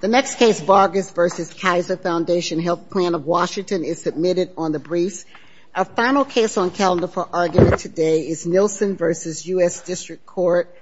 The next case, Vargas v. Kaiser Foundation Health Plan of Washington, is submitted on the briefs. Our final case on calendar for argument today is Nielsen v. U.S. District Court.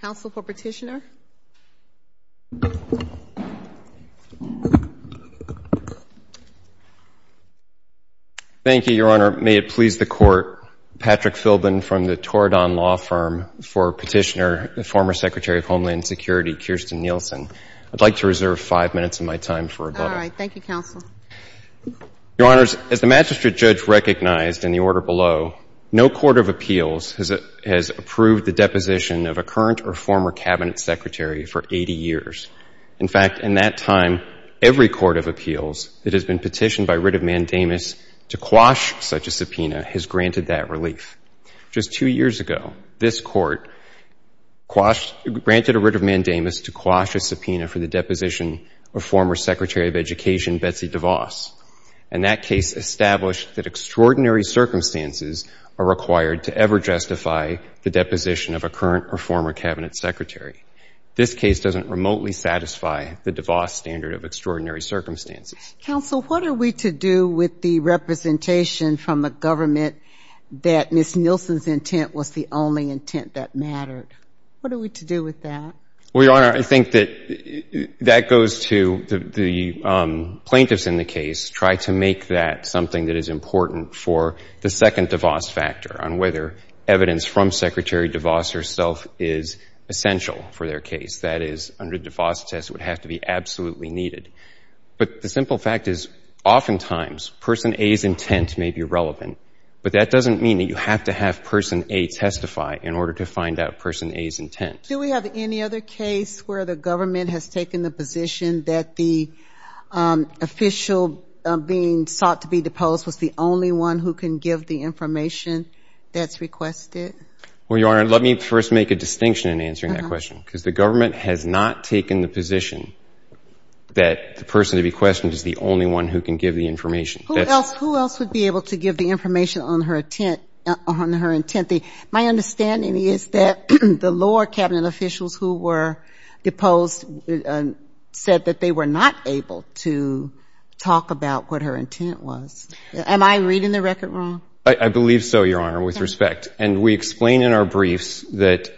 Counsel for petitioner. Thank you, Your Honor. May it please the Court, Patrick Philbin from the Toradon Law Firm for petitioner, the former Secretary of Homeland Security, Kirsten Nielsen. I'd like to reserve five minutes of my time for rebuttal. All right. Thank you, Counsel. Your Honors, as the magistrate judge recognized in the order below, no court of appeals has approved the deposition of a current or former cabinet secretary for 80 years. In fact, in that time, every court of appeals that has been petitioned by writ of mandamus to quash such a subpoena has granted that relief. Just two years ago, this Court quashed, granted a writ of mandamus to quash a subpoena for the deposition of former Secretary of Education, Betsy DeVos. And that case established that extraordinary circumstances are required to ever justify the deposition of a current or former cabinet secretary. This case doesn't remotely satisfy the DeVos standard of extraordinary circumstances. Counsel, what are we to do with the representation from the government that Ms. Nielsen's intent was the only intent that mattered? What are we to do with that? Well, Your Honor, I think that that goes to the plaintiffs in the case try to make that something that is important for the second DeVos factor on whether evidence from Secretary DeVos herself is essential for their case. That is, under DeVos, a test would have to be absolutely needed. But the simple fact is oftentimes Person A's intent may be relevant, but that doesn't mean that you have to have Person A testify in order to find out Person A's intent. Do we have any other case where the government has taken the position that the official being sought to be deposed was the only one who can give the information that's requested? Well, Your Honor, let me first make a distinction in answering that question. Because the government has not taken the position that the person to be questioned is the only one who can give the information. Who else would be able to give the information on her intent? My understanding is that the lower cabinet officials who were deposed said that they were not able to talk about what her intent was. Am I reading the record wrong? I believe so, Your Honor, with respect. And we explain in our briefs that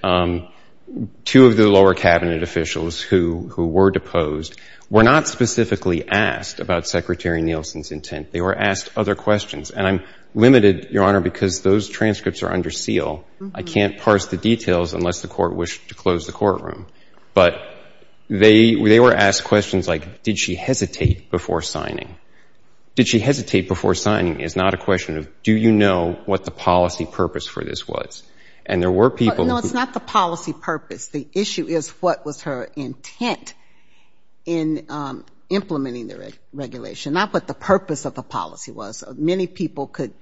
two of the lower cabinet officials who were deposed were not specifically asked about Secretary Nielsen's intent. They were asked other questions. And I'm limited, Your Honor, because those transcripts are under seal. I can't parse the details unless the Court wished to close the courtroom. But they were asked questions like, did she hesitate before signing? Did she hesitate before signing is not a question of do you know what the policy purpose for this was? And there were people who — No, it's not the policy purpose. The issue is what was her intent in implementing the regulation, not what the purpose of the policy was. Many people could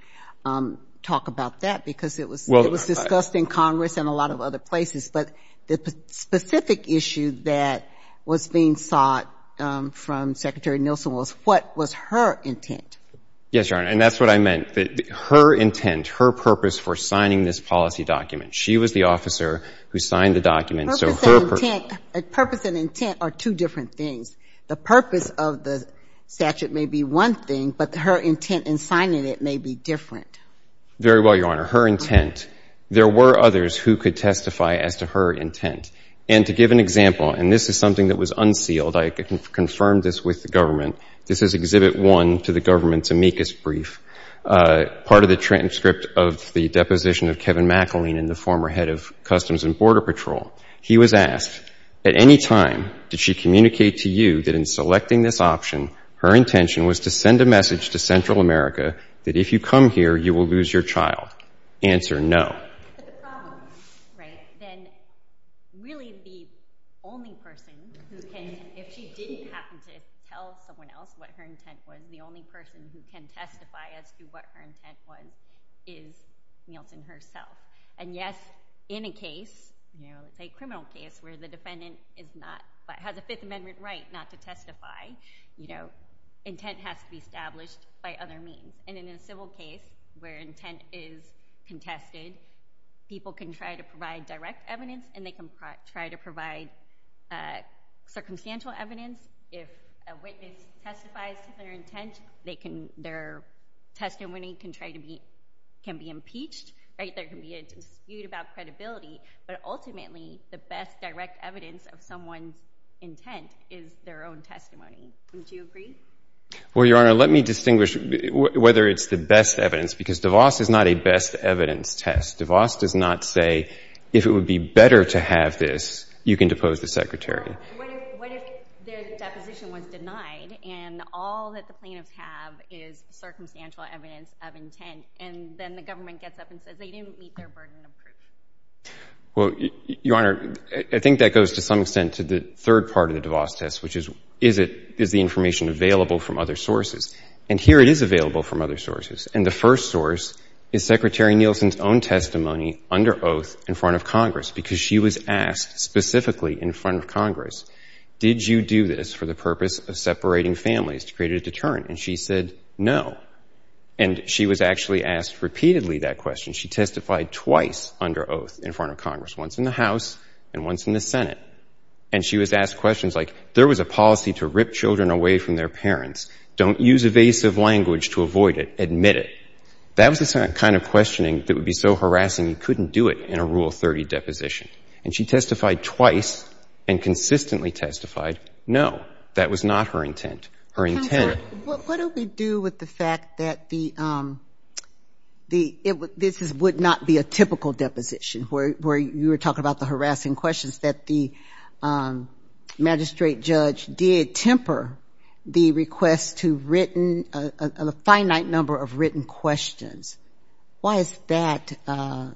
talk about that because it was discussed in Congress and a lot of other places. But the specific issue that was being sought from Secretary Nielsen was what was her intent. Yes, Your Honor, and that's what I meant. Her intent, her purpose for signing this policy document, she was the officer who signed the document. Purpose and intent are two different things. The purpose of the statute may be one thing, but her intent in signing it may be different. Very well, Your Honor. Her intent. There were others who could testify as to her intent. And to give an example, and this is something that was unsealed. I confirmed this with the government. This is Exhibit 1 to the government's amicus brief, part of the transcript of the deposition of Kevin McAleenan, the former head of Customs and Border Patrol. He was asked, at any time did she communicate to you that in selecting this option, her intention was to send a message to Central America that if you come here, you will lose your child? Answer, no. But the problem is, right, then really the only person who can, if she didn't happen to tell someone else what her intent was, the only person who can testify as to what her intent was is Nielsen herself. And yes, in a case, say a criminal case where the defendant has a Fifth Amendment right not to testify, intent has to be established by other means. And in a civil case where intent is contested, people can try to provide direct evidence and they can try to provide circumstantial evidence. If a witness testifies to their intent, their testimony can be impeached. Right? There can be a dispute about credibility, but ultimately the best direct evidence of someone's intent is their own testimony. Don't you agree? Well, Your Honor, let me distinguish whether it's the best evidence, because DeVos is not a best evidence test. DeVos does not say if it would be better to have this, you can depose the secretary. What if the deposition was denied and all that the plaintiffs have is circumstantial evidence of intent and then the government gets up and says they didn't meet their burden of proof? Well, Your Honor, I think that goes to some extent to the third part of the DeVos test, which is, is the information available from other sources? And here it is available from other sources. And the first source is Secretary Nielsen's own testimony under oath in front of Congress, because she was asked specifically in front of Congress, did you do this for the purpose of separating families to create a deterrent? And she said no. And she was actually asked repeatedly that question. She testified twice under oath in front of Congress, once in the House and once in the Senate. And she was asked questions like, there was a policy to rip children away from their parents. Don't use evasive language to avoid it. Admit it. That was the kind of questioning that would be so harassing you couldn't do it in a Rule 30 deposition. And she testified twice and consistently testified no. That was not her intent. Counsel, what do we do with the fact that this would not be a typical deposition, where you were talking about the harassing questions, that the magistrate judge did temper the request to a finite number of written questions? Why is that? Why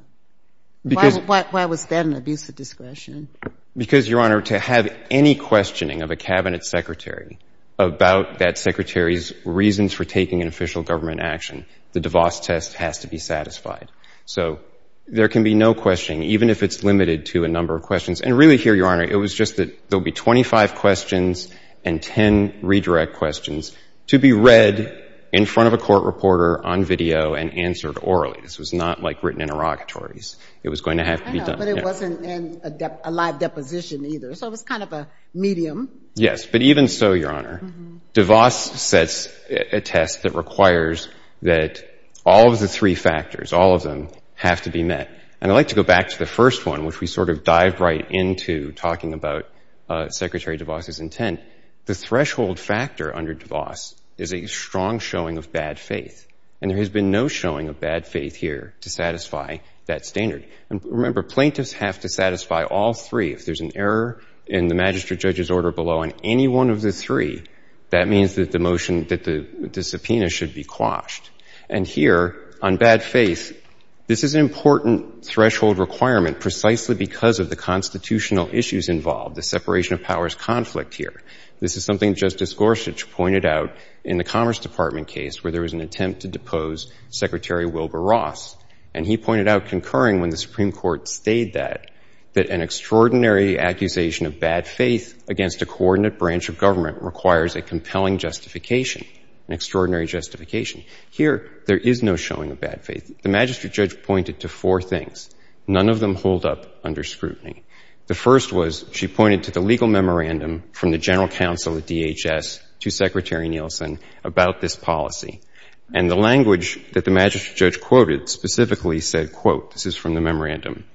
was that an abuse of discretion? Because, Your Honor, to have any questioning of a Cabinet secretary about that secretary's reasons for taking an official government action, the DeVos test has to be satisfied. So there can be no questioning, even if it's limited to a number of questions. And really here, Your Honor, it was just that there will be 25 questions and 10 redirect questions to be read in front of a court reporter on video and answered orally. This was not like written interrogatories. It was going to have to be done. But it wasn't a live deposition either. So it was kind of a medium. Yes. But even so, Your Honor, DeVos sets a test that requires that all of the three factors, all of them, have to be met. And I'd like to go back to the first one, which we sort of dive right into talking about Secretary DeVos's intent. The threshold factor under DeVos is a strong showing of bad faith. And there has been no showing of bad faith here to satisfy that standard. And remember, plaintiffs have to satisfy all three. If there's an error in the magistrate judge's order below on any one of the three, that means that the motion, that the subpoena should be quashed. And here, on bad faith, this is an important threshold requirement precisely because of the constitutional issues involved, the separation of powers conflict here. This is something Justice Gorsuch pointed out in the Commerce Department case where there was an attempt to depose Secretary Wilbur Ross. And he pointed out, concurring when the Supreme Court stayed that, that an extraordinary accusation of bad faith against a coordinate branch of government requires a compelling justification, an extraordinary justification. Here, there is no showing of bad faith. The magistrate judge pointed to four things. None of them hold up under scrutiny. The first was she pointed to the legal memorandum from the General Counsel at DHS to Secretary Nielsen about this policy. And the language that the magistrate judge quoted specifically said, quote, this is from the memorandum,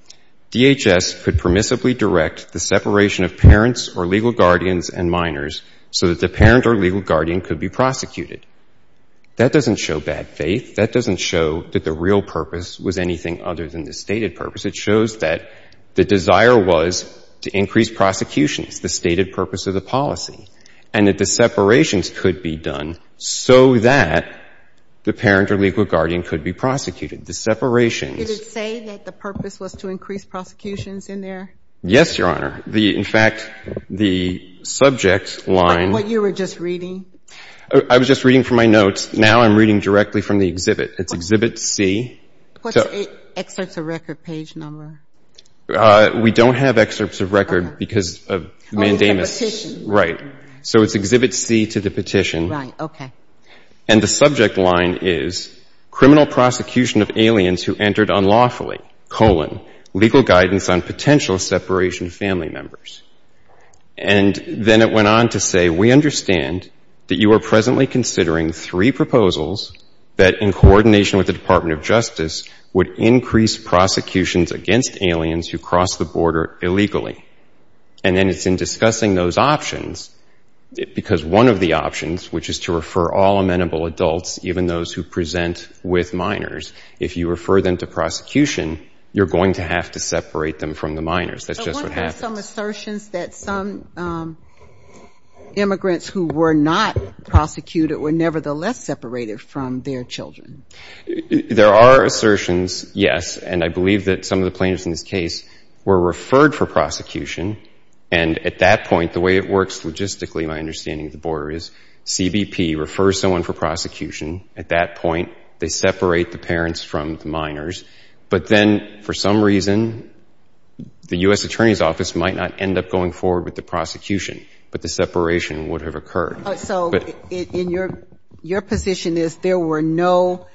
DHS could permissibly direct the separation of parents or legal guardians and minors so that the parent or legal guardian could be prosecuted. That doesn't show bad faith. That doesn't show that the real purpose was anything other than the stated purpose. It shows that the desire was to increase prosecutions, the stated purpose of the policy, and that the separations could be done so that the parent or legal guardian could be prosecuted. The separations. Did it say that the purpose was to increase prosecutions in there? Yes, Your Honor. In fact, the subject line. Like what you were just reading? I was just reading from my notes. Now I'm reading directly from the exhibit. It's Exhibit C. What's the excerpts of record page number? We don't have excerpts of record because of mandamus. Oh, it's a petition. Right. So it's Exhibit C to the petition. Right. Okay. And the subject line is criminal prosecution of aliens who entered unlawfully, colon, legal guidance on potential separation of family members. And then it went on to say, we understand that you are presently considering three proposals that in coordination with the Department of Justice would increase prosecutions against aliens who cross the border illegally. And then it's in discussing those options because one of the options, which is to refer all amenable adults, even those who present with minors, if you refer them to prosecution, you're going to have to separate them from the minors. That's just what happens. But weren't there some assertions that some immigrants who were not prosecuted were nevertheless separated from their children? There are assertions, yes. And I believe that some of the plaintiffs in this case were referred for prosecution. And at that point, the way it works logistically, my understanding of the border is CBP refers someone for prosecution. At that point, they separate the parents from the minors. But then for some reason, the U.S. Attorney's Office might not end up going forward with the prosecution, but the separation would have occurred. Your position is there were no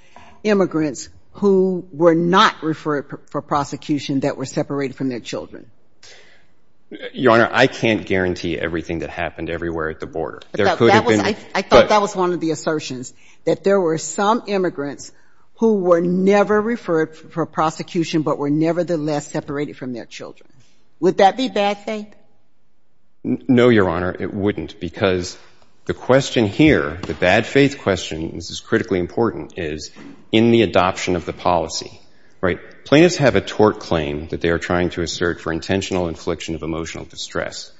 immigrants who were not referred for prosecution that were separated from their children? Your Honor, I can't guarantee everything that happened everywhere at the border. I thought that was one of the assertions, that there were some immigrants who were never referred for prosecution, but were nevertheless separated from their children. No, Your Honor, it wouldn't. Because the question here, the bad faith question, this is critically important, is in the adoption of the policy, right? Plaintiffs have a tort claim that they are trying to assert for intentional infliction of emotional distress.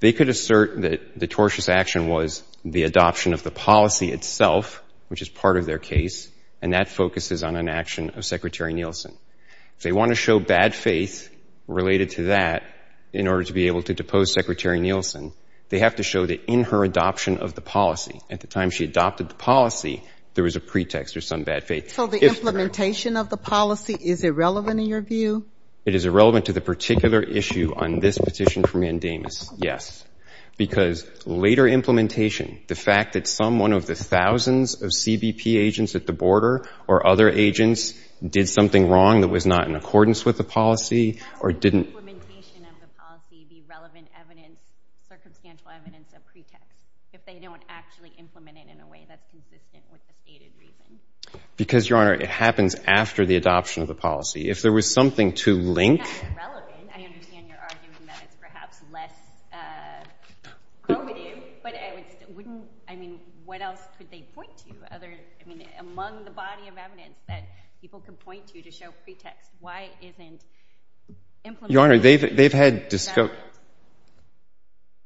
They could assert that the tortious action was the adoption of the policy itself, which is part of their case, and that focuses on an action of Secretary Nielsen. If they want to show bad faith related to that, in order to be able to depose Secretary Nielsen, they have to show that in her adoption of the policy, at the time she adopted the policy, there was a pretext or some bad faith. So the implementation of the policy, is it relevant in your view? It is irrelevant to the particular issue on this petition for mandamus, yes. Because later implementation, the fact that someone of the thousands of CBP agents at the border or other agents did something wrong that was not in accordance with the policy or the implementation of the policy, the relevant evidence, circumstantial evidence of pretext, if they don't actually implement it in a way that's consistent with the stated reason. Because, Your Honor, it happens after the adoption of the policy. If there was something to link. It's not irrelevant. I understand you're arguing that it's perhaps less probative, but I mean, what else could they point to? I mean, among the body of evidence that people can point to to show pretext, why isn't implementation. Your Honor,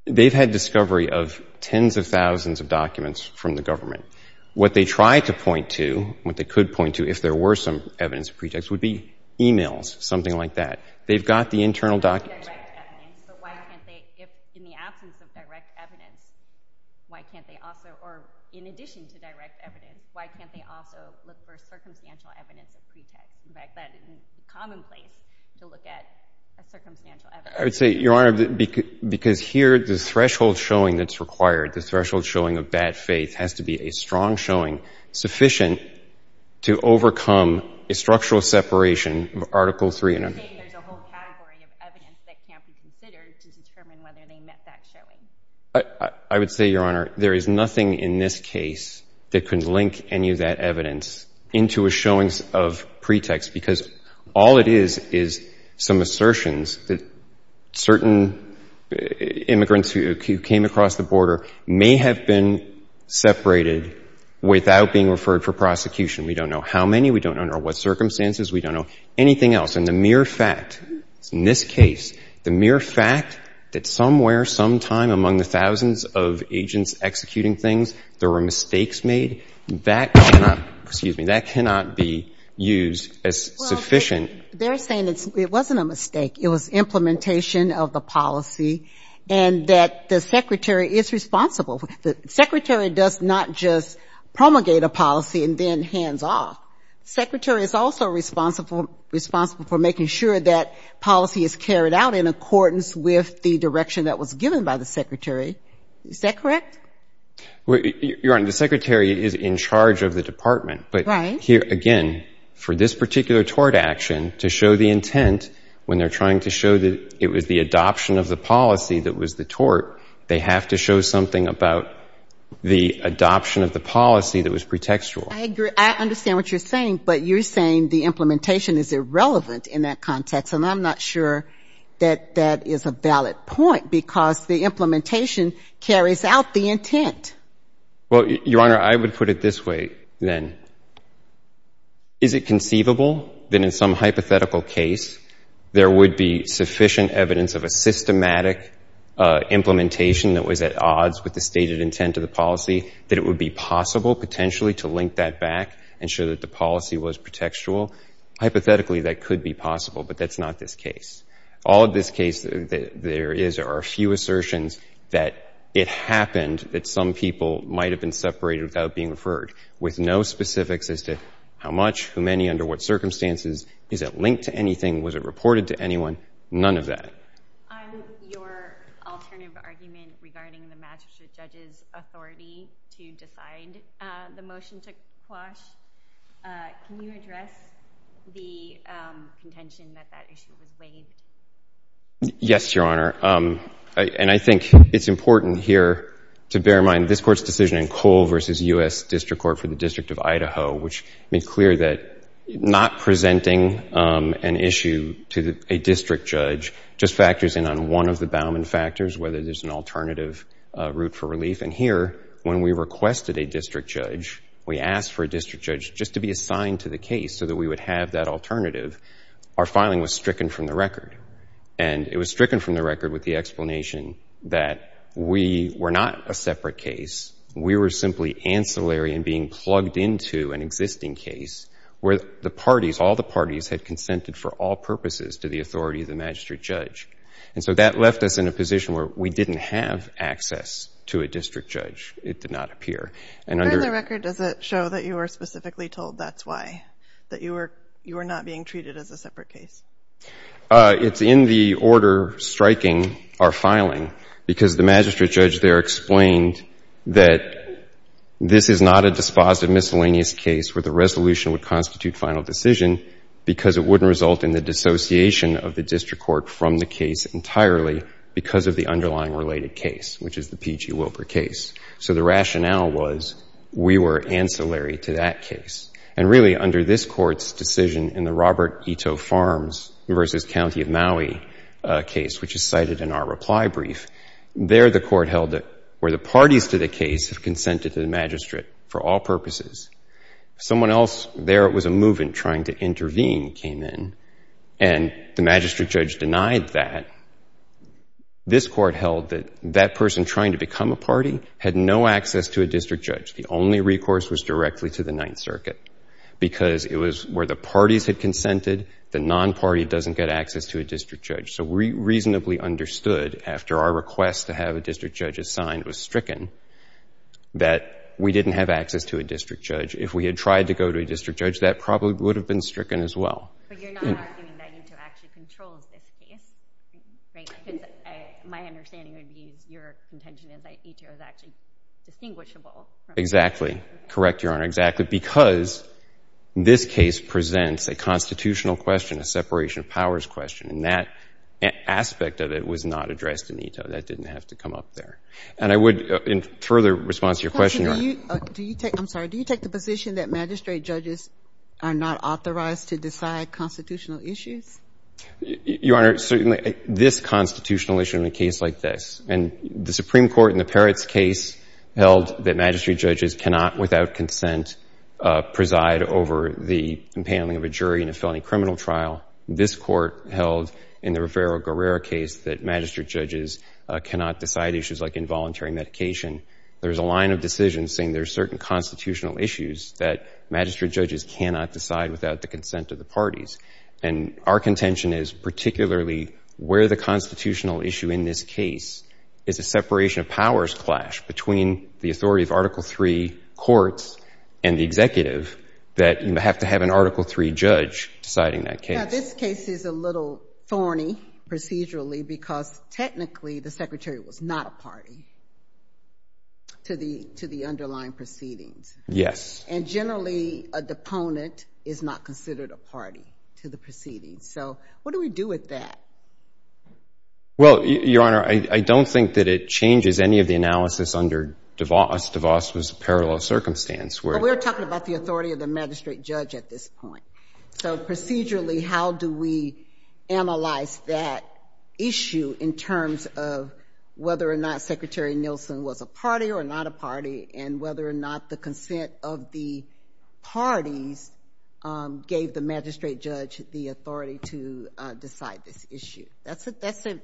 they've had discovery of tens of thousands of documents from the government. What they tried to point to, what they could point to if there were some evidence of pretext, would be emails, something like that. They've got the internal documents. But why can't they, if in the absence of direct evidence, why can't they also, or in addition to direct evidence, why can't they also look for circumstantial evidence of pretext? In fact, that isn't commonplace to look at a circumstantial evidence. I would say, Your Honor, because here the threshold showing that's required, the threshold showing of bad faith, has to be a strong showing sufficient to overcome a structural separation of Article 3 and Article 4. You're saying there's a whole category of evidence that can't be considered to determine whether they met that showing. I would say, Your Honor, there is nothing in this case that could link any of that evidence into a pretext, because all it is, is some assertions that certain immigrants who came across the border may have been separated without being referred for prosecution. We don't know how many. We don't know under what circumstances. We don't know anything else. And the mere fact, in this case, the mere fact that somewhere sometime among the thousands of agents executing things, there were mistakes made, that cannot, excuse me, that cannot be used as sufficient. Well, they're saying it wasn't a mistake. It was implementation of the policy and that the secretary is responsible. The secretary does not just promulgate a policy and then hands off. The secretary is also responsible for making sure that policy is carried out in accordance with the direction that was given by the secretary. Is that correct? Your Honor, the secretary is in charge of the department. Right. But here, again, for this particular tort action, to show the intent when they're trying to show that it was the adoption of the policy that was the tort, they have to show something about the adoption of the policy that was pretextual. I agree. I understand what you're saying, but you're saying the implementation is irrelevant in that context. because the implementation carries out the intent. Well, Your Honor, I would put it this way then. Is it conceivable that in some hypothetical case there would be sufficient evidence of a systematic implementation that was at odds with the stated intent of the policy, that it would be possible potentially to link that back and show that the policy was pretextual? Hypothetically, that could be possible, but that's not this case. All of this case there is, there are a few assertions that it happened that some people might have been separated without being referred, with no specifics as to how much, how many, under what circumstances. Is it linked to anything? Was it reported to anyone? None of that. On your alternative argument regarding the magistrate judge's authority to decide the motion to quash, can you address the contention that that issue was raised? Yes, Your Honor. And I think it's important here to bear in mind this Court's decision in Cole v. U.S. District Court for the District of Idaho, which made clear that not presenting an issue to a district judge just factors in on one of the Bauman factors, whether there's an alternative route for relief. And here, when we requested a district judge, we asked for a district judge just to be assigned to the case so that we would have that alternative, our filing was stricken from the record. And it was stricken from the record with the explanation that we were not a separate case, we were simply ancillary in being plugged into an existing case where the parties, all the parties, had consented for all purposes to the authority of the magistrate judge. And so that left us in a position where we didn't have access to a district judge. It did not appear. And under the record, does it show that you were specifically told that's why, that you were not being treated as a separate case? It's in the order striking our filing, because the magistrate judge there explained that this is not a dispositive miscellaneous case where the resolution would constitute final decision, because it wouldn't result in the dissociation of the district court from the case entirely because of the underlying related case, which is the PG Wilbur case. So the rationale was we were ancillary to that case. And really under this court's decision in the Robert Ito Farms versus County of Maui case, which is cited in our reply brief, there the court held it where the parties to the case have consented to the magistrate for all purposes. Someone else there was a movement trying to intervene came in and the magistrate judge denied that. This court held that that person trying to become a party had no access to a district judge. The only recourse was directly to the Ninth Circuit, because it was where the parties had consented, the non-party doesn't get access to a district judge. So we reasonably understood, after our request to have a district judge assigned was stricken, that we didn't have access to a district judge. If we had tried to go to a district judge, that probably would have been stricken as well. But you're not arguing that Ito actually controls this case, right? My understanding would be your contention is that Ito is actually distinguishable. Exactly. Correct, Your Honor. Exactly. Because this case presents a constitutional question, a separation of powers question, and that aspect of it was not addressed in Ito. That didn't have to come up there. And I would, in further response to your question. Counselor, do you take the position that magistrate judges are not authorized to decide constitutional issues? Your Honor, certainly this constitutional issue in a case like this, and the Supreme Court in the Peretz case held that magistrate judges cannot, without consent, preside over the impounding of a jury in a felony criminal trial. This court held in the Rivera-Guerrero case that magistrate judges cannot decide issues like involuntary medication. There's a line of decision saying there's certain constitutional issues that magistrate judges cannot decide without the consent of the parties. And our contention is particularly where the constitutional issue in this case is a separation of powers clash between the authority of Article III courts and the executive, that you have to have an Article III judge deciding that case. Now, this case is a little thorny procedurally because technically the secretary was not a party to the underlying proceedings. Yes. And generally a deponent is not considered a party to the proceedings. So what do we do with that? Well, Your Honor, I don't think that it changes any of the analysis under DeVos. DeVos was a parallel circumstance. But we're talking about the authority of the magistrate judge at this point. So procedurally how do we analyze that issue in terms of whether or not Secretary Nielsen was a party or not a party, and whether or not the consent of the parties gave the magistrate judge the authority to decide this issue? That's a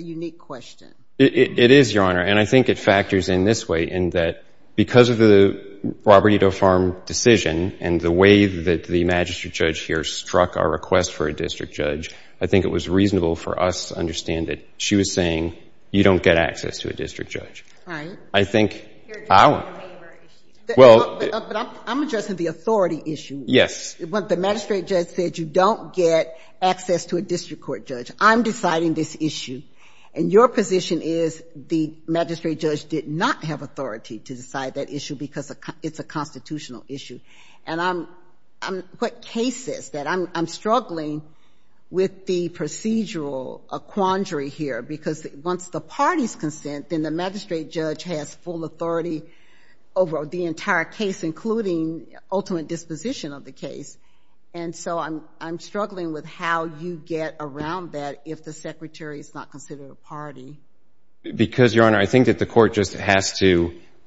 unique question. It is, Your Honor. And I think it factors in this way, in that because of the Robert E. Doe Farm decision and the way that the magistrate judge here struck our request for a district judge, I think it was reasonable for us to understand that she was saying you don't get access to a district judge. Right. I think our — But I'm addressing the authority issue. Yes. The magistrate judge said you don't get access to a district court judge. I'm deciding this issue. And your position is the magistrate judge did not have authority to decide that issue because it's a constitutional issue. And I'm — what case is that? I'm struggling with the procedural quandary here, because once the parties consent, then the magistrate judge has full authority over the entire case, including ultimate disposition of the case. And so I'm struggling with how you get around that if the secretary is not considered a party. Because, Your Honor, I think that the court just has to —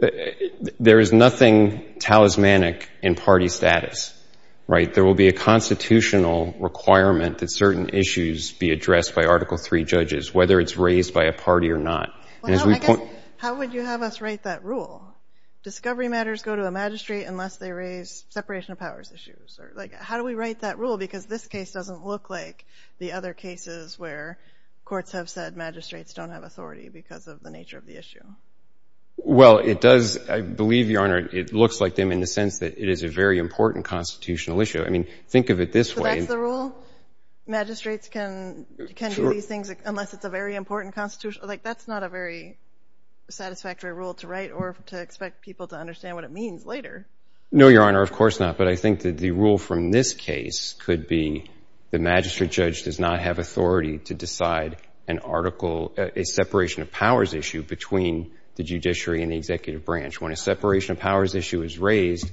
there is nothing talismanic in party status. Right? There will be a constitutional requirement that certain issues be addressed by a party or not. Well, I guess — And as we point — How would you have us write that rule? Discovery matters go to a magistrate unless they raise separation of powers issues. Or, like, how do we write that rule? Because this case doesn't look like the other cases where courts have said magistrates don't have authority because of the nature of the issue. Well, it does — I believe, Your Honor, it looks like them in the sense that it is a very important constitutional issue. I mean, think of it this way — So that's the rule? Magistrates can — Sure. They can't write these things unless it's a very important constitutional — like, that's not a very satisfactory rule to write or to expect people to understand what it means later. No, Your Honor, of course not. But I think that the rule from this case could be the magistrate judge does not have authority to decide an article — a separation of powers issue between the judiciary and the executive branch. When a separation of powers issue is raised,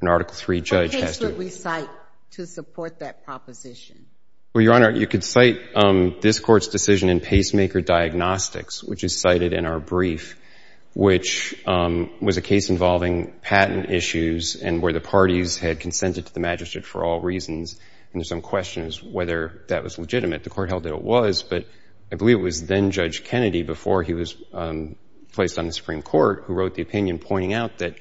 an Article III judge has to — What case would we cite to support that proposition? Well, Your Honor, you could cite this Court's decision in pacemaker diagnostics, which is cited in our brief, which was a case involving patent issues and where the parties had consented to the magistrate for all reasons, and there's some questions whether that was legitimate. The Court held that it was, but I believe it was then-Judge Kennedy, before he was placed on the Supreme Court, who wrote the opinion pointing out that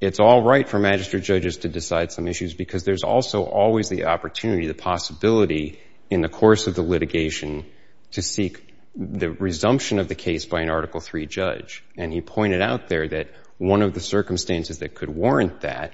it's all right for magistrate judges to decide some issues because there's also always the opportunity, the possibility in the course of the litigation to seek the resumption of the case by an Article III judge. And he pointed out there that one of the circumstances that could warrant that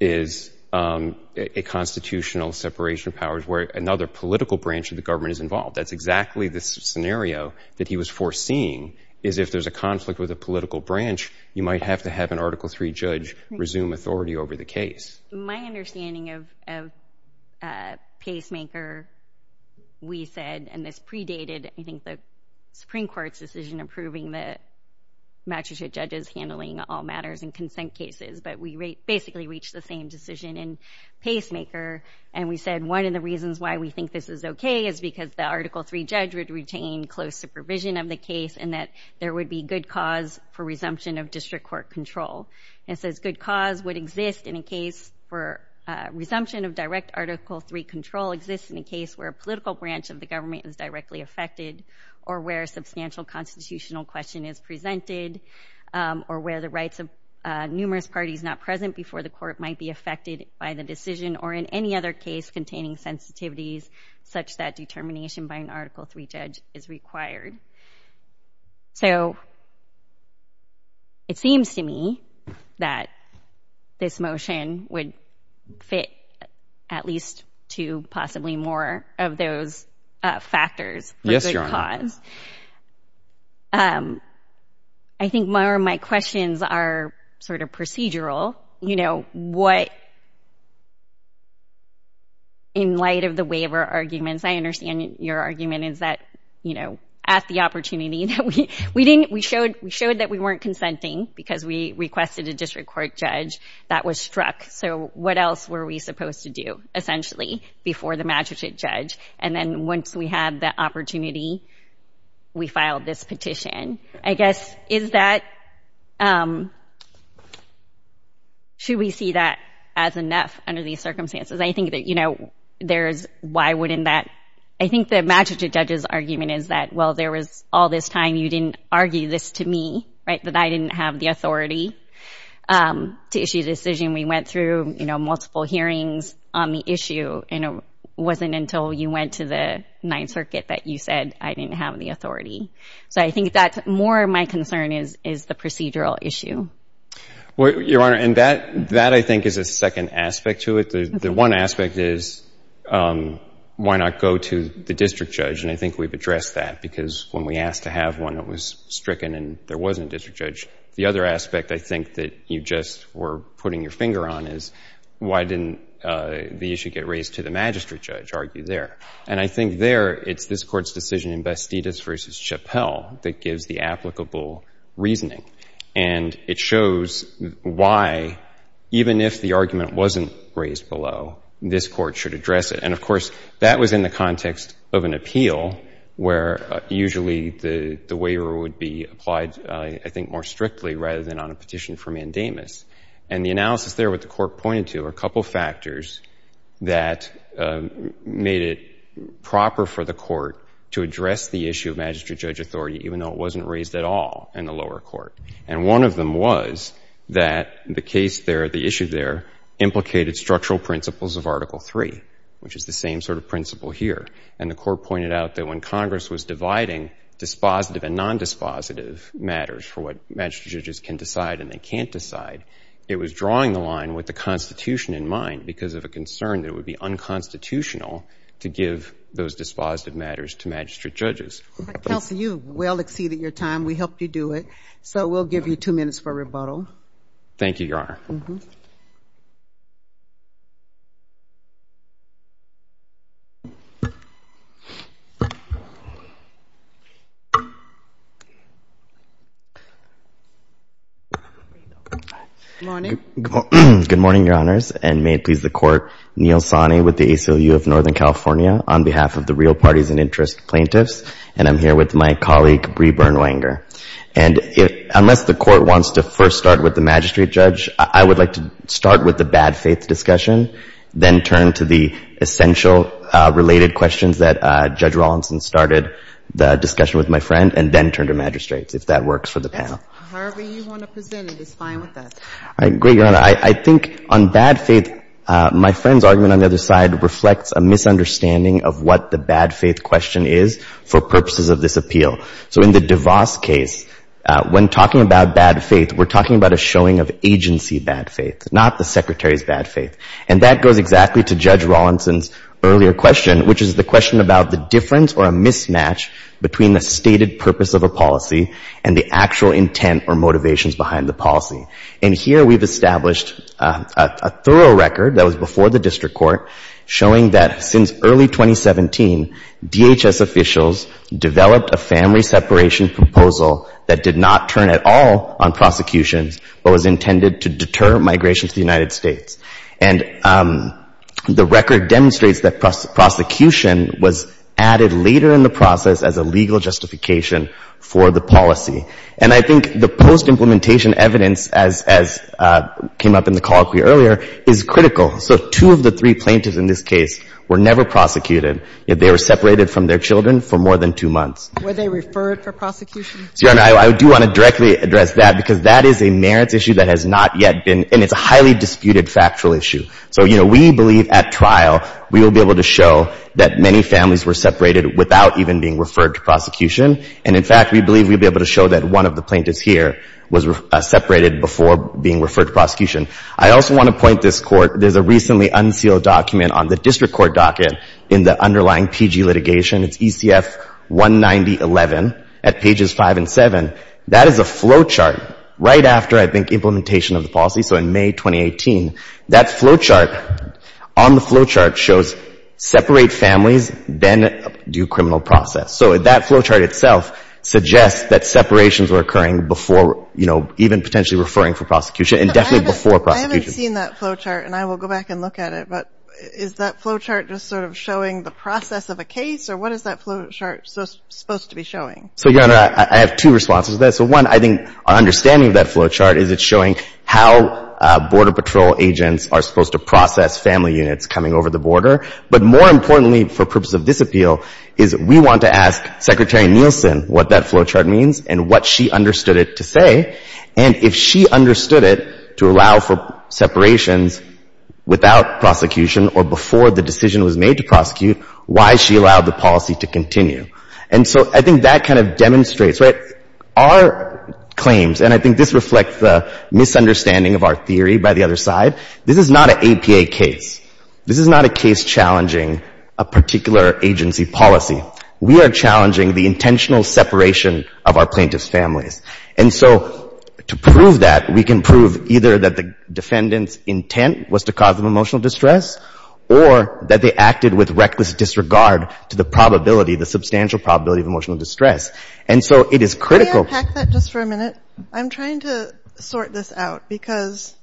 is a constitutional separation of powers where another political branch of the government is involved. That's exactly the scenario that he was foreseeing, is if there's a conflict with a political branch, you might have to have an Article III judge resume authority over the case. My understanding of pacemaker, we said, and this predated I think the Supreme Court's decision approving the magistrate judges handling all matters and consent cases, but we basically reached the same decision in pacemaker, and we said one of the reasons why we think this is okay is because the Article III judge would retain close supervision of the case and that there would be good cause for resumption of district court control. And it says good cause would exist in a case for resumption of direct Article III control exists in a case where a political branch of the government is directly affected or where a substantial constitutional question is presented or where the rights of numerous parties not present before the court might be affected by the decision or in any other case containing sensitivities such that determination by an Article III judge is required. So it seems to me that this motion would fit at least two, possibly more of those factors for good cause. I think my, or my questions are sort of procedural, you know, what in light of the waiver arguments, I understand your argument is that, you know, at the opportunity that we, we didn't, we showed, we showed that we weren't consenting because we requested a district court judge that was struck. So what else were we supposed to do essentially before the magistrate judge? And then once we had the opportunity, we filed this petition, I guess, is that, should we see that as enough under these circumstances? I think that, you know, there's, why wouldn't that, I think the magistrate judge's argument is that, well, there was all this time you didn't argue this to me, right? That I didn't have the authority to issue a decision. We went through, you know, multiple hearings on the issue and it wasn't until you went to the Ninth Circuit that you said, I didn't have the authority. So I think that more of my concern is, is the procedural issue. Well, Your Honor, and that, that I think is a second aspect to it. The one aspect is, why not go to the district judge? And I think we've addressed that because when we asked to have one that was stricken and there wasn't a district judge, the other aspect I think that you just were putting your finger on is, why didn't the issue get raised to the magistrate judge? Argue there. And I think there, it's this court's decision in Bastidas versus Chappell that gives the applicable reasoning. And it shows why, even if the argument wasn't raised below, this court should address it. And of course, that was in the context of an appeal where usually the, the waiver would be applied, I think, more strictly rather than on a petition for mandamus. And the analysis there, what the court pointed to are a couple of factors that made it proper for the court to address the issue of magistrate judge authority, even though it wasn't raised at all in the lower court. And one of them was that the case there, the issue there, implicated structural principles of article three, which is the same sort of principle here. And the court pointed out that when Congress was dividing dispositive and non-dispositive matters for what magistrate judges can decide and they can't decide, it was drawing the line with the constitution in mind because of a concern that it would be unconstitutional to give those dispositive matters to magistrate judges. Kelsey, you well exceeded your time. We helped you do it. So we'll give you two minutes for rebuttal. Thank you, Your Honor. Good morning, Your Honors. And may it please the court, Neil Sani with the ACLU of Northern California on behalf of the real parties and interest plaintiffs. And I'm here with my colleague Bree Byrne-Wenger. And unless the court wants to first start with the magistrate judge, I would like to start with the bad faith discussion, then turn to the essential related questions that Judge Rawlinson started, the discussion with my friend, and then turn to magistrates, if that works for the panel. However you want to present it is fine with us. I agree, Your Honor. I think on bad faith, my friend's argument on the other side reflects a So in the DeVos case, when talking about bad faith, we're talking about a showing of agency bad faith, not the secretary's bad faith. And that goes exactly to Judge Rawlinson's earlier question, which is the question about the difference or a mismatch between the stated purpose of a policy and the actual intent or motivations behind the policy. And here we've established a thorough record that was before the district court showing that since early 2017, DHS officials developed a family separation proposal that did not turn at all on prosecutions, but was intended to deter migration to the United States. And the record demonstrates that prosecution was added later in the process as a legal justification for the policy. And I think the post-implementation evidence, as came up in the colloquy earlier, is critical. So two of the three plaintiffs in this case were never prosecuted, yet they were separated from their children for more than two months. Were they referred for prosecution? Your Honor, I do want to directly address that, because that is a merits issue that has not yet been, and it's a highly disputed factual issue. So, you know, we believe at trial we will be able to show that many families were separated without even being referred to prosecution. And in fact, we believe we'll be able to show that one of the plaintiffs here was separated before being referred to prosecution. I also want to point this Court. There's a recently unsealed document on the district court docket in the underlying PG litigation. It's ECF 19011 at pages 5 and 7. That is a flowchart right after, I think, implementation of the policy, so in May 2018. That flowchart, on the flowchart, shows separate families, then due criminal process. So that flowchart itself suggests that separations were occurring before, you know, even potentially referring for prosecution, and definitely before prosecution. I haven't seen that flowchart, and I will go back and look at it, but is that flowchart just sort of showing the process of a case, or what is that flowchart supposed to be showing? So, Your Honor, I have two responses to that. So, one, I think our understanding of that flowchart is it's showing how Border Patrol agents are supposed to process family units coming over the border. But more importantly, for purpose of this appeal, is we want to ask Secretary Nielsen what that flowchart means and what she understood it to say. And if she understood it to allow for separations without prosecution or before the decision was made to prosecute, why she allowed the policy to continue. And so I think that kind of demonstrates, right, our claims, and I think this reflects the misunderstanding of our theory by the other side. This is not an APA case. This is not a case challenging a particular agency policy. We are challenging the intentional separation of our plaintiffs' families. And so to prove that, we can prove either that the defendant's intent was to cause them emotional distress or that they acted with reckless disregard to the probability, the substantial probability of emotional distress. And so it is critical. Can I unpack that just for a minute? I'm trying to sort this out because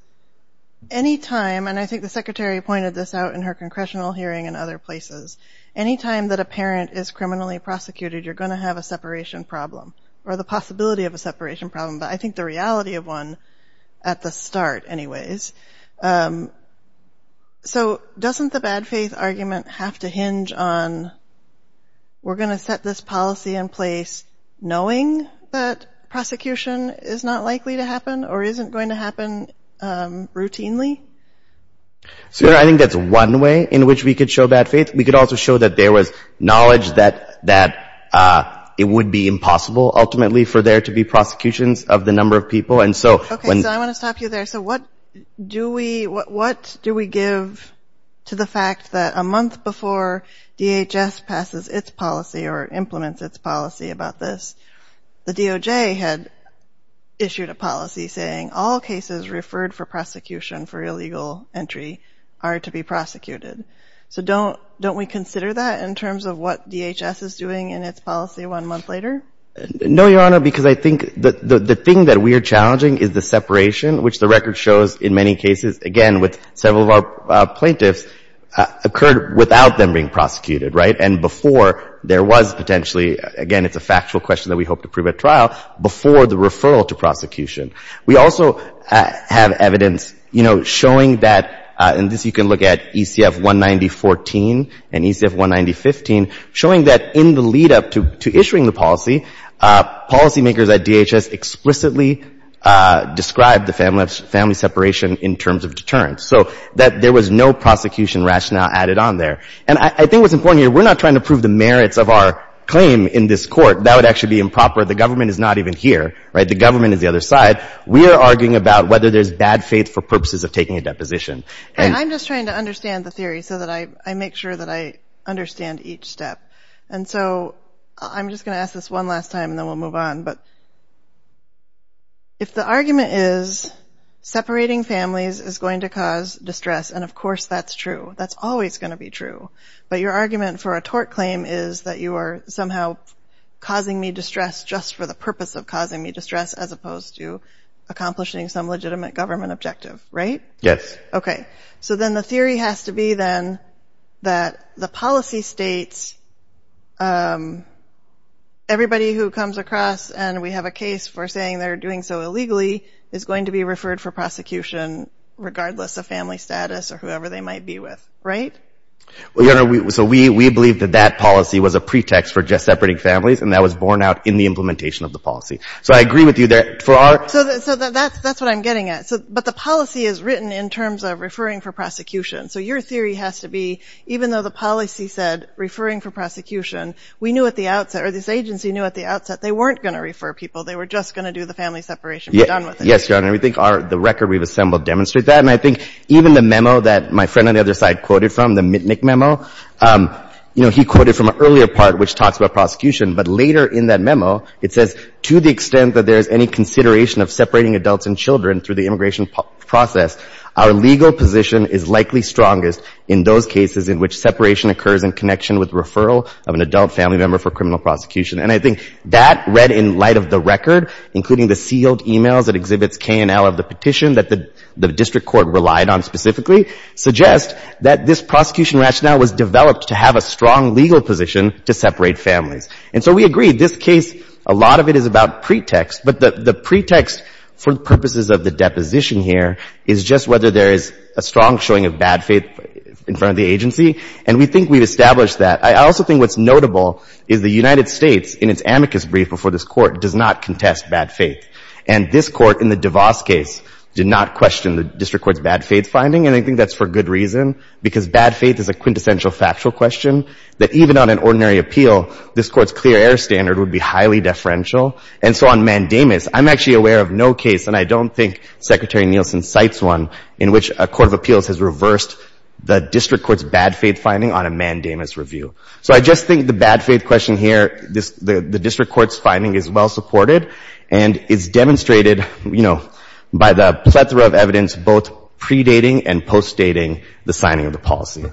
any time, and I think the Secretary pointed this out in her Congressional hearing and other places, any time that a parent is criminally prosecuted, you're going to have a separation problem or the possibility of a separation problem, but I think the reality of one at the start anyways. So doesn't the bad faith argument have to hinge on we're going to set this policy in place knowing that prosecution is not likely to happen or isn't going to happen routinely? I think that's one way in which we could show bad faith. We could also show that there was knowledge that it would be impossible ultimately for there to be prosecutions of the number of people. Okay, so I want to stop you there. So what do we give to the fact that a month before DHS passes its policy or implements its policy about this, the DOJ had issued a policy saying all cases referred for prosecution for illegal entry are to be prosecuted. So don't we consider that in terms of what DHS is doing in its policy one month later? No, Your Honor, because I think the thing that we are challenging is the separation, which the record shows in many cases, again, with several of our plaintiffs, occurred without them being prosecuted, right, and before there was potentially, again, it's a factual question that we hope to prove at trial, before the referral to prosecution. We also have evidence, you know, showing that, and this you can look at ECF-190-14 and ECF-190-15, showing that in the lead-up to issuing the policy, policymakers at DHS explicitly described the family separation in terms of deterrence, so that there was no prosecution rationale added on there. And I think what's important here, we're not trying to prove the merits of our claim in this Court. That would actually be improper. The government is not even here, right? The government is the other side. We are arguing about whether there's bad faith for purposes of taking a deposition. And I'm just trying to understand the theory so that I make sure that I understand each step. And so I'm just going to ask this one last time and then we'll move on, but if the argument is separating families is going to cause distress, and of course that's true, that's always going to be true, but your argument for a tort claim is that you are somehow causing me distress just for the purpose of causing me distress as opposed to accomplishing some legitimate government objective, right? Yes. Okay. So then the theory has to be then that the policy states everybody who comes across and we have a case for saying they're doing so illegally is going to be referred for prosecution regardless of family status or whoever they might be with, right? So we believe that that policy was a pretext for just separating families, and that was borne out in the implementation of the policy. So I agree with you there. So that's what I'm getting at. But the policy is written in terms of referring for prosecution. So your theory has to be even though the policy said referring for prosecution, we knew at the outset or this agency knew at the outset they weren't going to refer people. They were just going to do the family separation. Yes, Your Honor. We think the record we've assembled demonstrates that. And I think even the memo that my friend on the other side quoted from, the Mitnick memo, you know, he quoted from an earlier part which talks about prosecution, but later in that memo it says to the extent that there is any consideration of separating adults and children through the immigration process, our legal position is likely strongest in those cases in which separation occurs in connection with referral of an adult family member for criminal prosecution. And I think that read in light of the record, including the sealed e-mails that exhibits K&L of the petition that the district court relied on specifically, suggest that this prosecution rationale was developed to have a strong legal position to separate families. And so we agree. This case, a lot of it is about pretext, but the pretext for purposes of the deposition here is just whether there is a strong showing of bad faith in front of the agency. And we think we've established that. I also think what's notable is the United States in its amicus brief before this Court does not contest bad faith. And this Court in the DeVos case did not question the district court's bad faith finding, and I think that's for good reason, because bad faith is a quintessential factual question that even on an ordinary appeal, this Court's clear error standard would be highly deferential. And so on mandamus, I'm actually aware of no case, and I don't think Secretary Nielsen cites one, in which a court of appeals has reversed the district court's bad faith finding on a mandamus review. So I just think the bad faith question here, the district court's finding is well supported and is demonstrated, you know, by the plethora of evidence both predating and postdating the signing of the policy.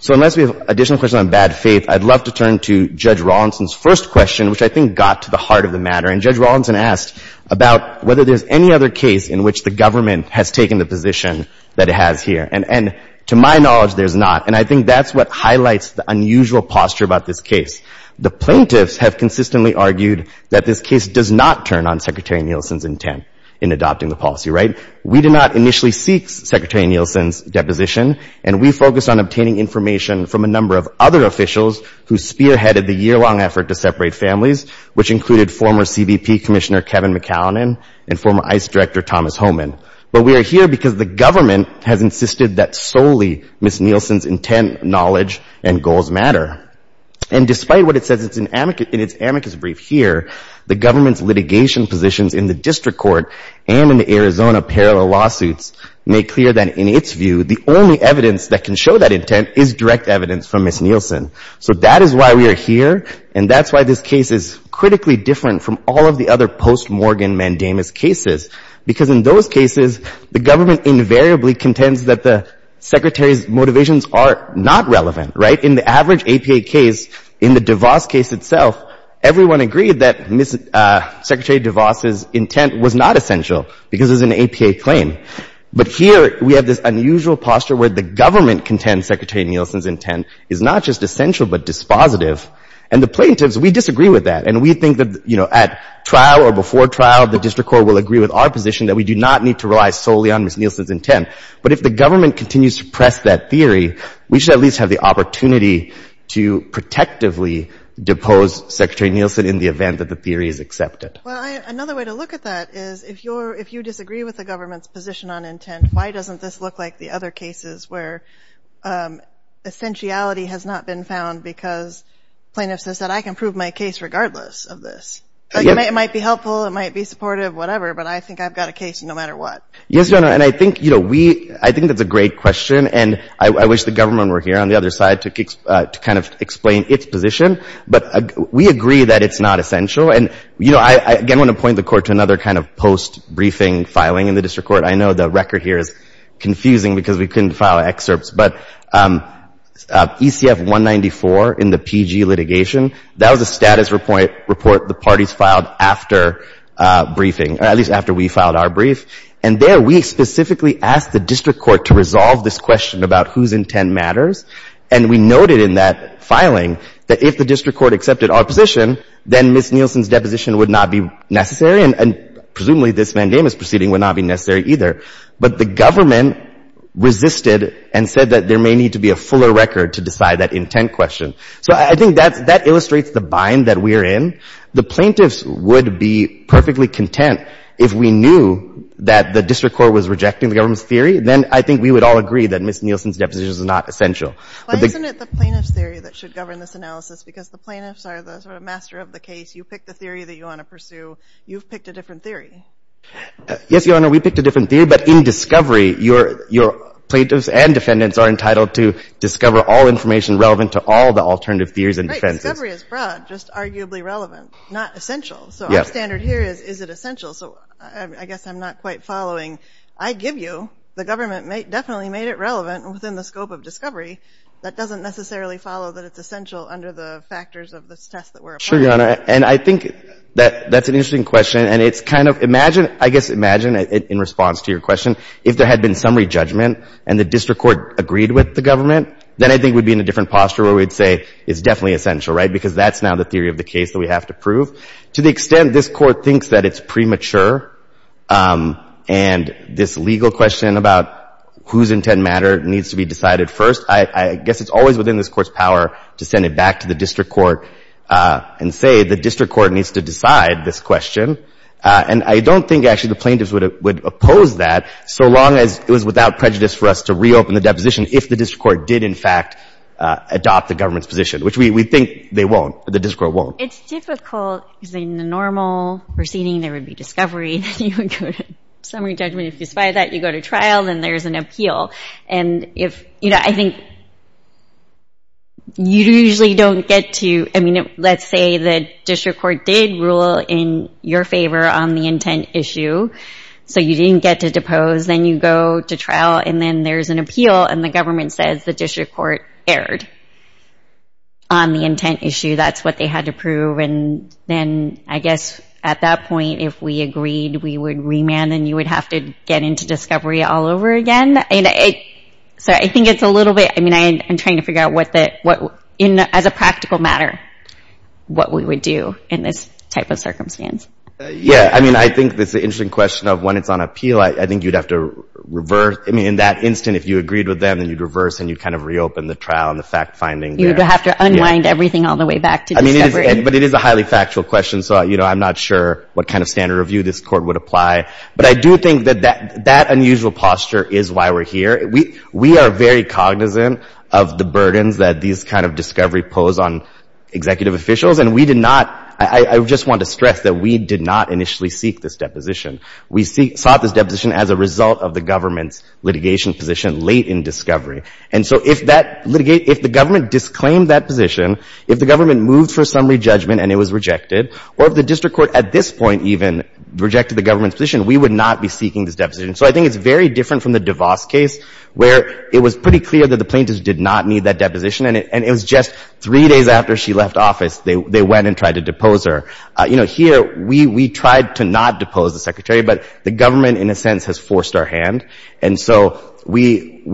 So unless we have additional questions on bad faith, I'd love to turn to Judge Rawlinson's first question, which I think got to the heart of the matter. And Judge Rawlinson asked about whether there's any other case in which the government has taken the position that it has here. And to my knowledge, there's not. And I think that's what highlights the unusual posture about this case. The plaintiffs have consistently argued that this case does not turn on Secretary Nielsen's intent in adopting the policy, right? We do not initially seek Secretary Nielsen's deposition, and we focus on obtaining information from a number of other officials who spearheaded the year-long effort to separate families, which included former CBP Commissioner Kevin McAllen and former ICE Director Thomas Homan. But we are here because the government has insisted that solely Ms. Nielsen's intent, knowledge and goals matter. And despite what it says in its amicus brief here, the government's litigation positions in the district court and in the Arizona parallel lawsuits make clear that in its view, the only evidence that can show that intent is direct evidence from Ms. Nielsen. So that is why we are here, and that's why this case is critically different from all of the other post-Morgan mandamus cases, because in those cases, the government invariably contends that the Secretary's motivations are not relevant, right? In the average APA case, in the DeVos case itself, everyone agreed that Ms. DeVos's intent was not essential because it's an APA claim. But here we have this unusual posture where the government contends Secretary Nielsen's intent is not just essential but dispositive. And the plaintiffs, we disagree with that. And we think that, you know, at trial or before trial, the district court will agree with our position that we do not need to rely solely on Ms. Nielsen's intent. But if the government continues to press that theory, we should at least have the opportunity to protectively depose Secretary Nielsen in the event that the theory is accepted. Well, another way to look at that is, if you disagree with the government's position on intent, why doesn't this look like the other cases where essentiality has not been found because plaintiffs have said, I can prove my case regardless of this? It might be helpful, it might be supportive, whatever, but I think I've got a case no matter what. Yes, Your Honor, and I think, you know, we – I think that's a great question, and I wish the government were here on the other side to kind of explain its position. But we agree that it's not essential. And, you know, I again want to point the Court to another kind of post-briefing filing in the district court. I know the record here is confusing because we couldn't file excerpts, but ECF 194 in the PG litigation, that was a status report the parties filed after briefing or at least after we filed our brief. And there, we specifically asked the district court to resolve this question about whose intent matters. And we noted in that filing that if the district court accepted our position, then Ms. Nielsen's deposition would not be necessary, and presumably this mandamus proceeding would not be necessary either. But the government resisted and said that there may need to be a fuller record to decide that intent question. So I think that's – that illustrates the bind that we're in. The plaintiffs would be perfectly content if we knew that the district court was rejecting the government's theory, then I think we would all agree that Ms. Nielsen's deposition is not essential. Why isn't it the plaintiff's theory that should govern this analysis? Because the plaintiffs are the sort of master of the case. You pick the theory that you want to pursue. You've picked a different theory. Yes, Your Honor, we picked a different theory, but in discovery, your plaintiffs and defendants are entitled to discover all information relevant to all the alternative theories and defenses. Right, discovery is broad, just arguably relevant, not essential. So our standard here is, is it essential? So I guess I'm not quite following. I give you the government definitely made it relevant within the scope of discovery. That doesn't necessarily follow that it's essential under the factors of this test that we're applying. Sure, Your Honor. And I think that's an interesting question, and it's kind of – imagine, I guess imagine in response to your question, if there had been summary judgment and the district court agreed with the government, then I think we'd be in a different posture where we'd say it's definitely essential, right, because that's now the theory of the case that we have to prove. To the extent this Court thinks that it's premature and this legal question about whose intent matter needs to be decided first, I guess it's always within this Court's power to send it back to the district court and say the district court needs to decide this question. And I don't think actually the plaintiffs would oppose that, so long as it was without prejudice for us to reopen the deposition if the district court did, in fact, adopt the government's position, which we think they won't. The district court won't. It's difficult because in the normal proceeding, there would be discovery. Then you would go to summary judgment. If you spy that, you go to trial. Then there's an appeal. And I think you usually don't get to – I mean, let's say the district court did rule in your favor on the intent issue, so you didn't get to depose. Then you go to trial, and then there's an appeal, and the government says the district court erred on the intent issue. That's what they had to prove. And then, I guess, at that point, if we agreed, we would remand, and you would have to get into discovery all over again. So I think it's a little bit – I mean, I'm trying to figure out what, as a practical matter, what we would do in this type of circumstance. Yeah. I mean, I think it's an interesting question of when it's on appeal, I think you'd have to reverse. I mean, in that instant, if you agreed with them, then you'd reverse, and you'd kind of reopen the trial and the fact-finding there. You'd have to unwind everything all the way back to discovery. Yeah. But it is a highly factual question, so I'm not sure what kind of standard review this Court would apply. But I do think that that unusual posture is why we're here. We are very cognizant of the burdens that these kind of discovery pose on executive officials, and we did not – I just want to stress that we did not initially seek this deposition. We sought this deposition as a result of the government's litigation position late in discovery. And so if that – if the government disclaimed that position, if the government went for a summary judgment and it was rejected, or if the district court at this point even rejected the government's position, we would not be seeking this deposition. So I think it's very different from the DeVos case, where it was pretty clear that the plaintiffs did not need that deposition, and it was just three days after she left office, they went and tried to depose her. You know, here, we tried to not depose the Secretary, but the government, in a sense, has forced our hand. And so we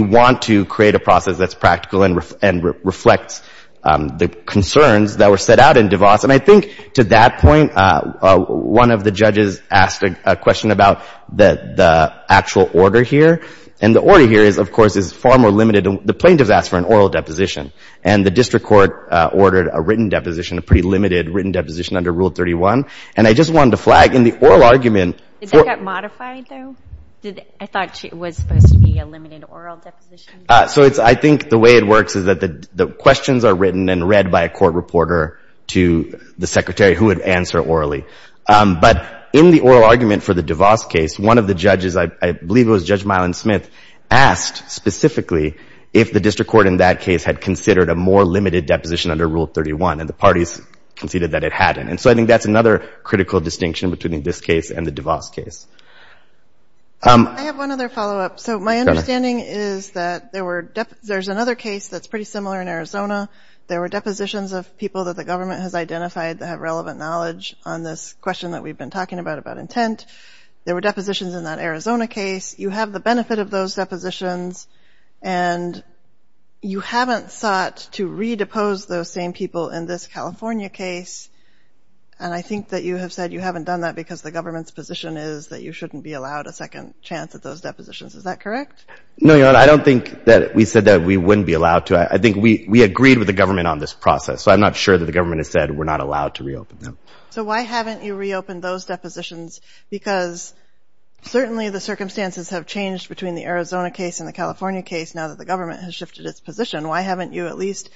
want to create a process that's practical and reflects the concerns that were set out in DeVos. And I think to that point, one of the judges asked a question about the actual order here. And the order here is, of course, is far more limited. The plaintiffs asked for an oral deposition, and the district court ordered a written deposition, a pretty limited written deposition under Rule 31. And I just wanted to flag, in the oral argument – Did that get modified, though? I thought it was supposed to be a limited oral deposition. So it's – I think the way it works is that the questions are written and read by a court reporter to the Secretary, who would answer orally. But in the oral argument for the DeVos case, one of the judges – I believe it was Judge Mylon Smith – asked specifically if the district court in that case had considered a more limited deposition under Rule 31, and the parties conceded that it hadn't. And so I think that's another critical distinction between this case and the DeVos case. I have one other follow-up. So my understanding is that there were – there's another case that's pretty similar in Arizona. There were depositions of people that the government has identified that have relevant knowledge on this question that we've been talking about, about intent. There were depositions in that Arizona case. You have the benefit of those depositions, and you haven't sought to redepose those same people in this California case. And I think that you have said you haven't done that because the government's position is that you shouldn't be allowed a second chance at those depositions. Is that correct? No, Your Honor. I don't think that we said that we wouldn't be allowed to. I think we agreed with the government on this process, so I'm not sure that the government has said we're not allowed to reopen them. So why haven't you reopened those depositions? Because certainly the circumstances have changed between the Arizona case and the California case now that the government has shifted its position. Why haven't you at least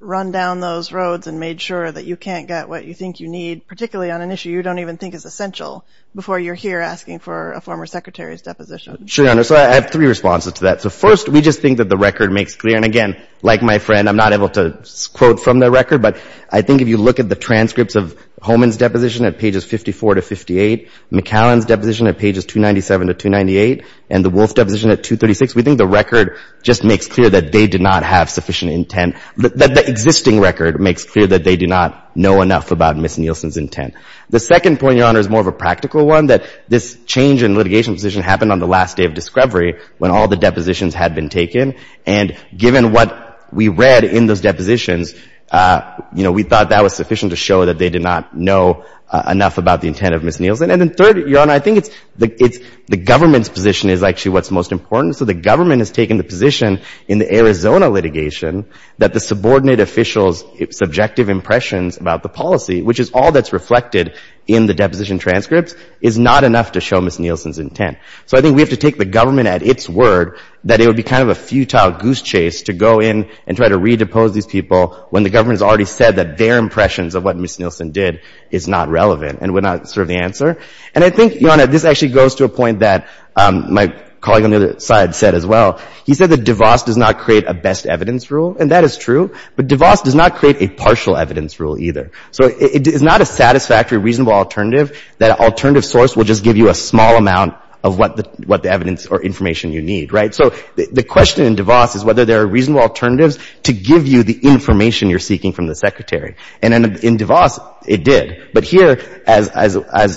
run down those roads and made sure that you can't get what you think you need, particularly on an issue you don't even think is essential, before you're here asking for a former secretary's deposition? Sure, Your Honor. So I have three responses to that. So first, we just think that the record makes clear. And again, like my friend, I'm not able to quote from the record, but I think if you look at the transcripts of Homan's deposition at pages 54 to 58, McCallan's deposition at pages 297 to 298, and the Wolf's deposition at 236, we think the record just makes clear that they did not have sufficient intent, that the existing record makes clear that they do not know enough about Ms. Nielsen's intent. The second point, Your Honor, is more of a practical one, that this change in litigation position happened on the last day of discovery, when all the depositions had been taken, and given what we read in those depositions, you know, we thought that was sufficient to show that they did not know enough about the intent of Ms. Nielsen. And then third, Your Honor, I think it's the government's position is actually what's most important. So the government has taken the position in the Arizona litigation that the subordinate officials' subjective impressions about the policy, which is all that's reflected in the deposition transcripts, is not enough to show Ms. Nielsen's intent. So I think we have to take the government at its word that it would be kind of a futile goose chase to go in and try to redepose these people when the government has already said that their impressions of what Ms. Nielsen did is not relevant and would not serve the answer. And I think, Your Honor, this actually goes to a point that my colleague on the other side said as well. He said that DeVos does not create a best evidence rule, and that is true, but DeVos does not create a partial evidence rule either. So it is not a satisfactory, reasonable alternative. That alternative source will just give you a small amount of what the evidence or information you need, right? So the question in DeVos is whether there are reasonable alternatives to give you the information you're seeking from the Secretary. And in DeVos, it did. But here, as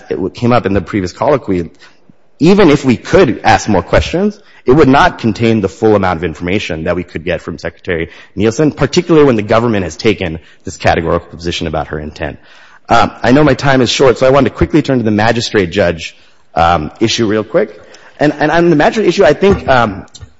it came up in the previous colloquy, even if we could ask more questions, it would not contain the full amount of information that we could get from Secretary Nielsen, particularly when the government has taken this categorical position about her intent. I know my time is short, so I want to quickly turn to the magistrate judge issue real quick. And on the magistrate issue, I think,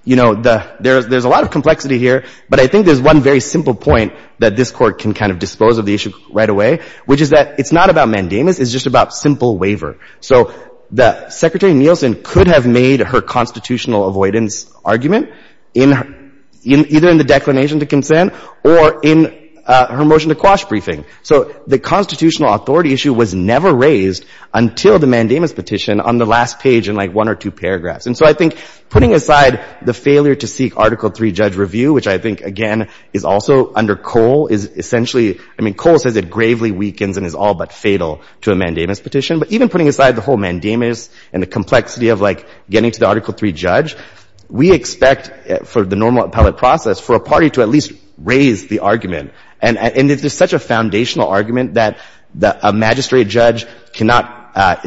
you know, there's a lot of complexity here, but I think there's one very simple point that this Court can kind of dispose of the issue right away, which is that it's not about mandamus. It's just about simple waiver. So the Secretary Nielsen could have made her constitutional avoidance argument either in the declination to consent or in her motion to quash briefing. So the constitutional authority issue was never raised until the mandamus petition on the last page in, like, one or two paragraphs. And so I think putting aside the failure to seek Article III judge review, which I think, again, is also under Cole, is essentially — I mean, Cole says it gravely weakens and is all but fatal to a mandamus petition. But even putting aside the whole mandamus and the complexity of, like, getting to the Article III judge, we expect for the normal appellate process for a party to at least raise the argument. And if there's such a foundational argument that a magistrate judge cannot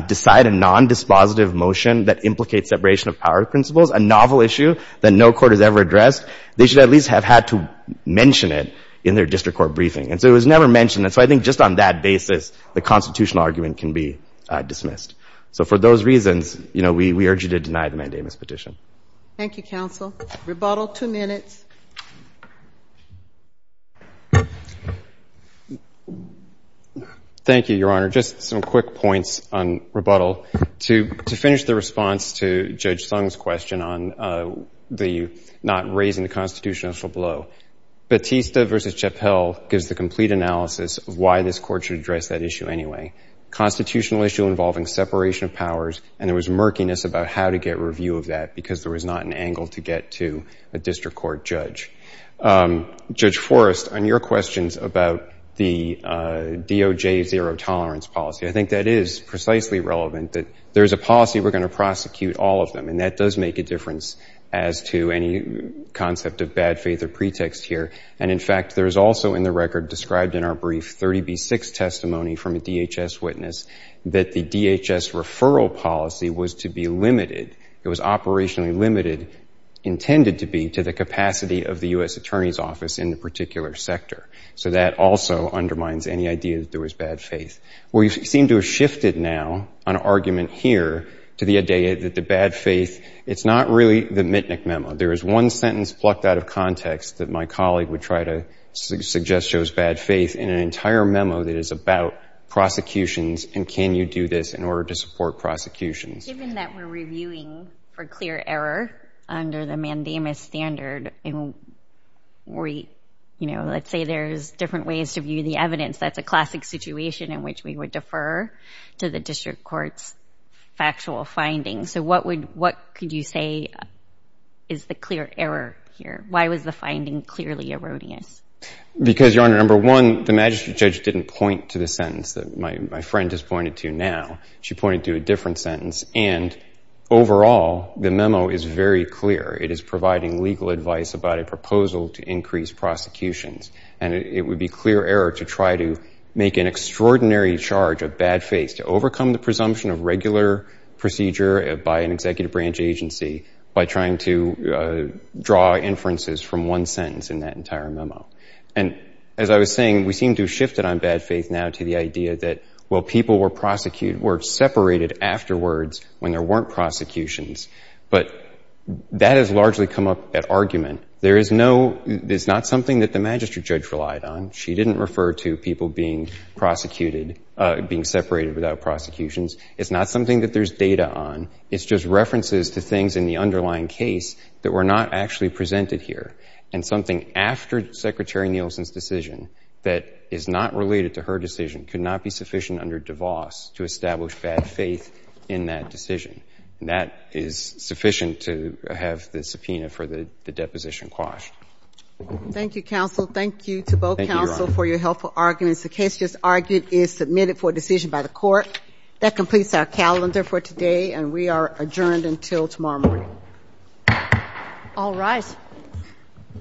decide a nondispositive motion that implicates separation of power principles, a novel issue that no court has ever addressed, they should at least have had to mention it in their district court briefing. And so it was never mentioned. And so I think just on that basis, the constitutional argument can be dismissed. So for those reasons, you know, we urge you to deny the mandamus petition. Thank you, counsel. Rebuttal, two minutes. Thank you, Your Honor. Just some quick points on rebuttal. To finish the response to Judge Sung's question on the not raising the constitutional blow, Batista v. Chappell gives the complete analysis of why this court should address that issue anyway. Constitutional issue involving separation of powers, and there was murkiness about how to get review of that because there was not an angle to get to a district court judge. Judge Forrest, on your questions about the DOJ zero-tolerance policy, I think that is precisely relevant, that there's a policy we're going to prosecute all of them, and that does make a difference as to any concept of bad faith or pretext here. And, in fact, there is also in the record described in our brief 30B6 testimony from a DHS witness that the DHS referral policy was to be limited, it was operationally limited, intended to be to the capacity of the U.S. Attorney's Office in the particular sector. So that also undermines any idea that there was bad faith. We seem to have shifted now on argument here to the idea that the bad faith, it's not really the Mitnick memo. There is one sentence plucked out of context that my colleague would try to and can you do this in order to support prosecutions? Given that we're reviewing for clear error under the mandamus standard, and we, you know, let's say there's different ways to view the evidence, that's a classic situation in which we would defer to the district court's factual findings. So what would, what could you say is the clear error here? Why was the finding clearly erroneous? Because, Your Honor, number one, the magistrate judge didn't point to the sentence that my friend has pointed to now. She pointed to a different sentence. And overall, the memo is very clear. It is providing legal advice about a proposal to increase prosecutions. And it would be clear error to try to make an extraordinary charge of bad faith, to overcome the presumption of regular procedure by an executive branch agency by trying to draw inferences from one sentence in that entire memo. And as I was saying, we seem to have shifted on bad faith now to the idea that well, people were prosecuted, were separated afterwards when there weren't prosecutions. But that has largely come up at argument. There is no, it's not something that the magistrate judge relied on. She didn't refer to people being prosecuted, being separated without prosecutions. It's not something that there's data on. It's just references to things in the underlying case that were not actually presented here. And something after Secretary Nielsen's decision that is not related to her decision could not be sufficient under DeVos to establish bad faith in that decision. And that is sufficient to have the subpoena for the deposition quashed. Thank you, counsel. Thank you to both counsel for your helpful arguments. The case just argued is submitted for decision by the court. That completes our calendar for today. And we are adjourned until tomorrow morning. All rise.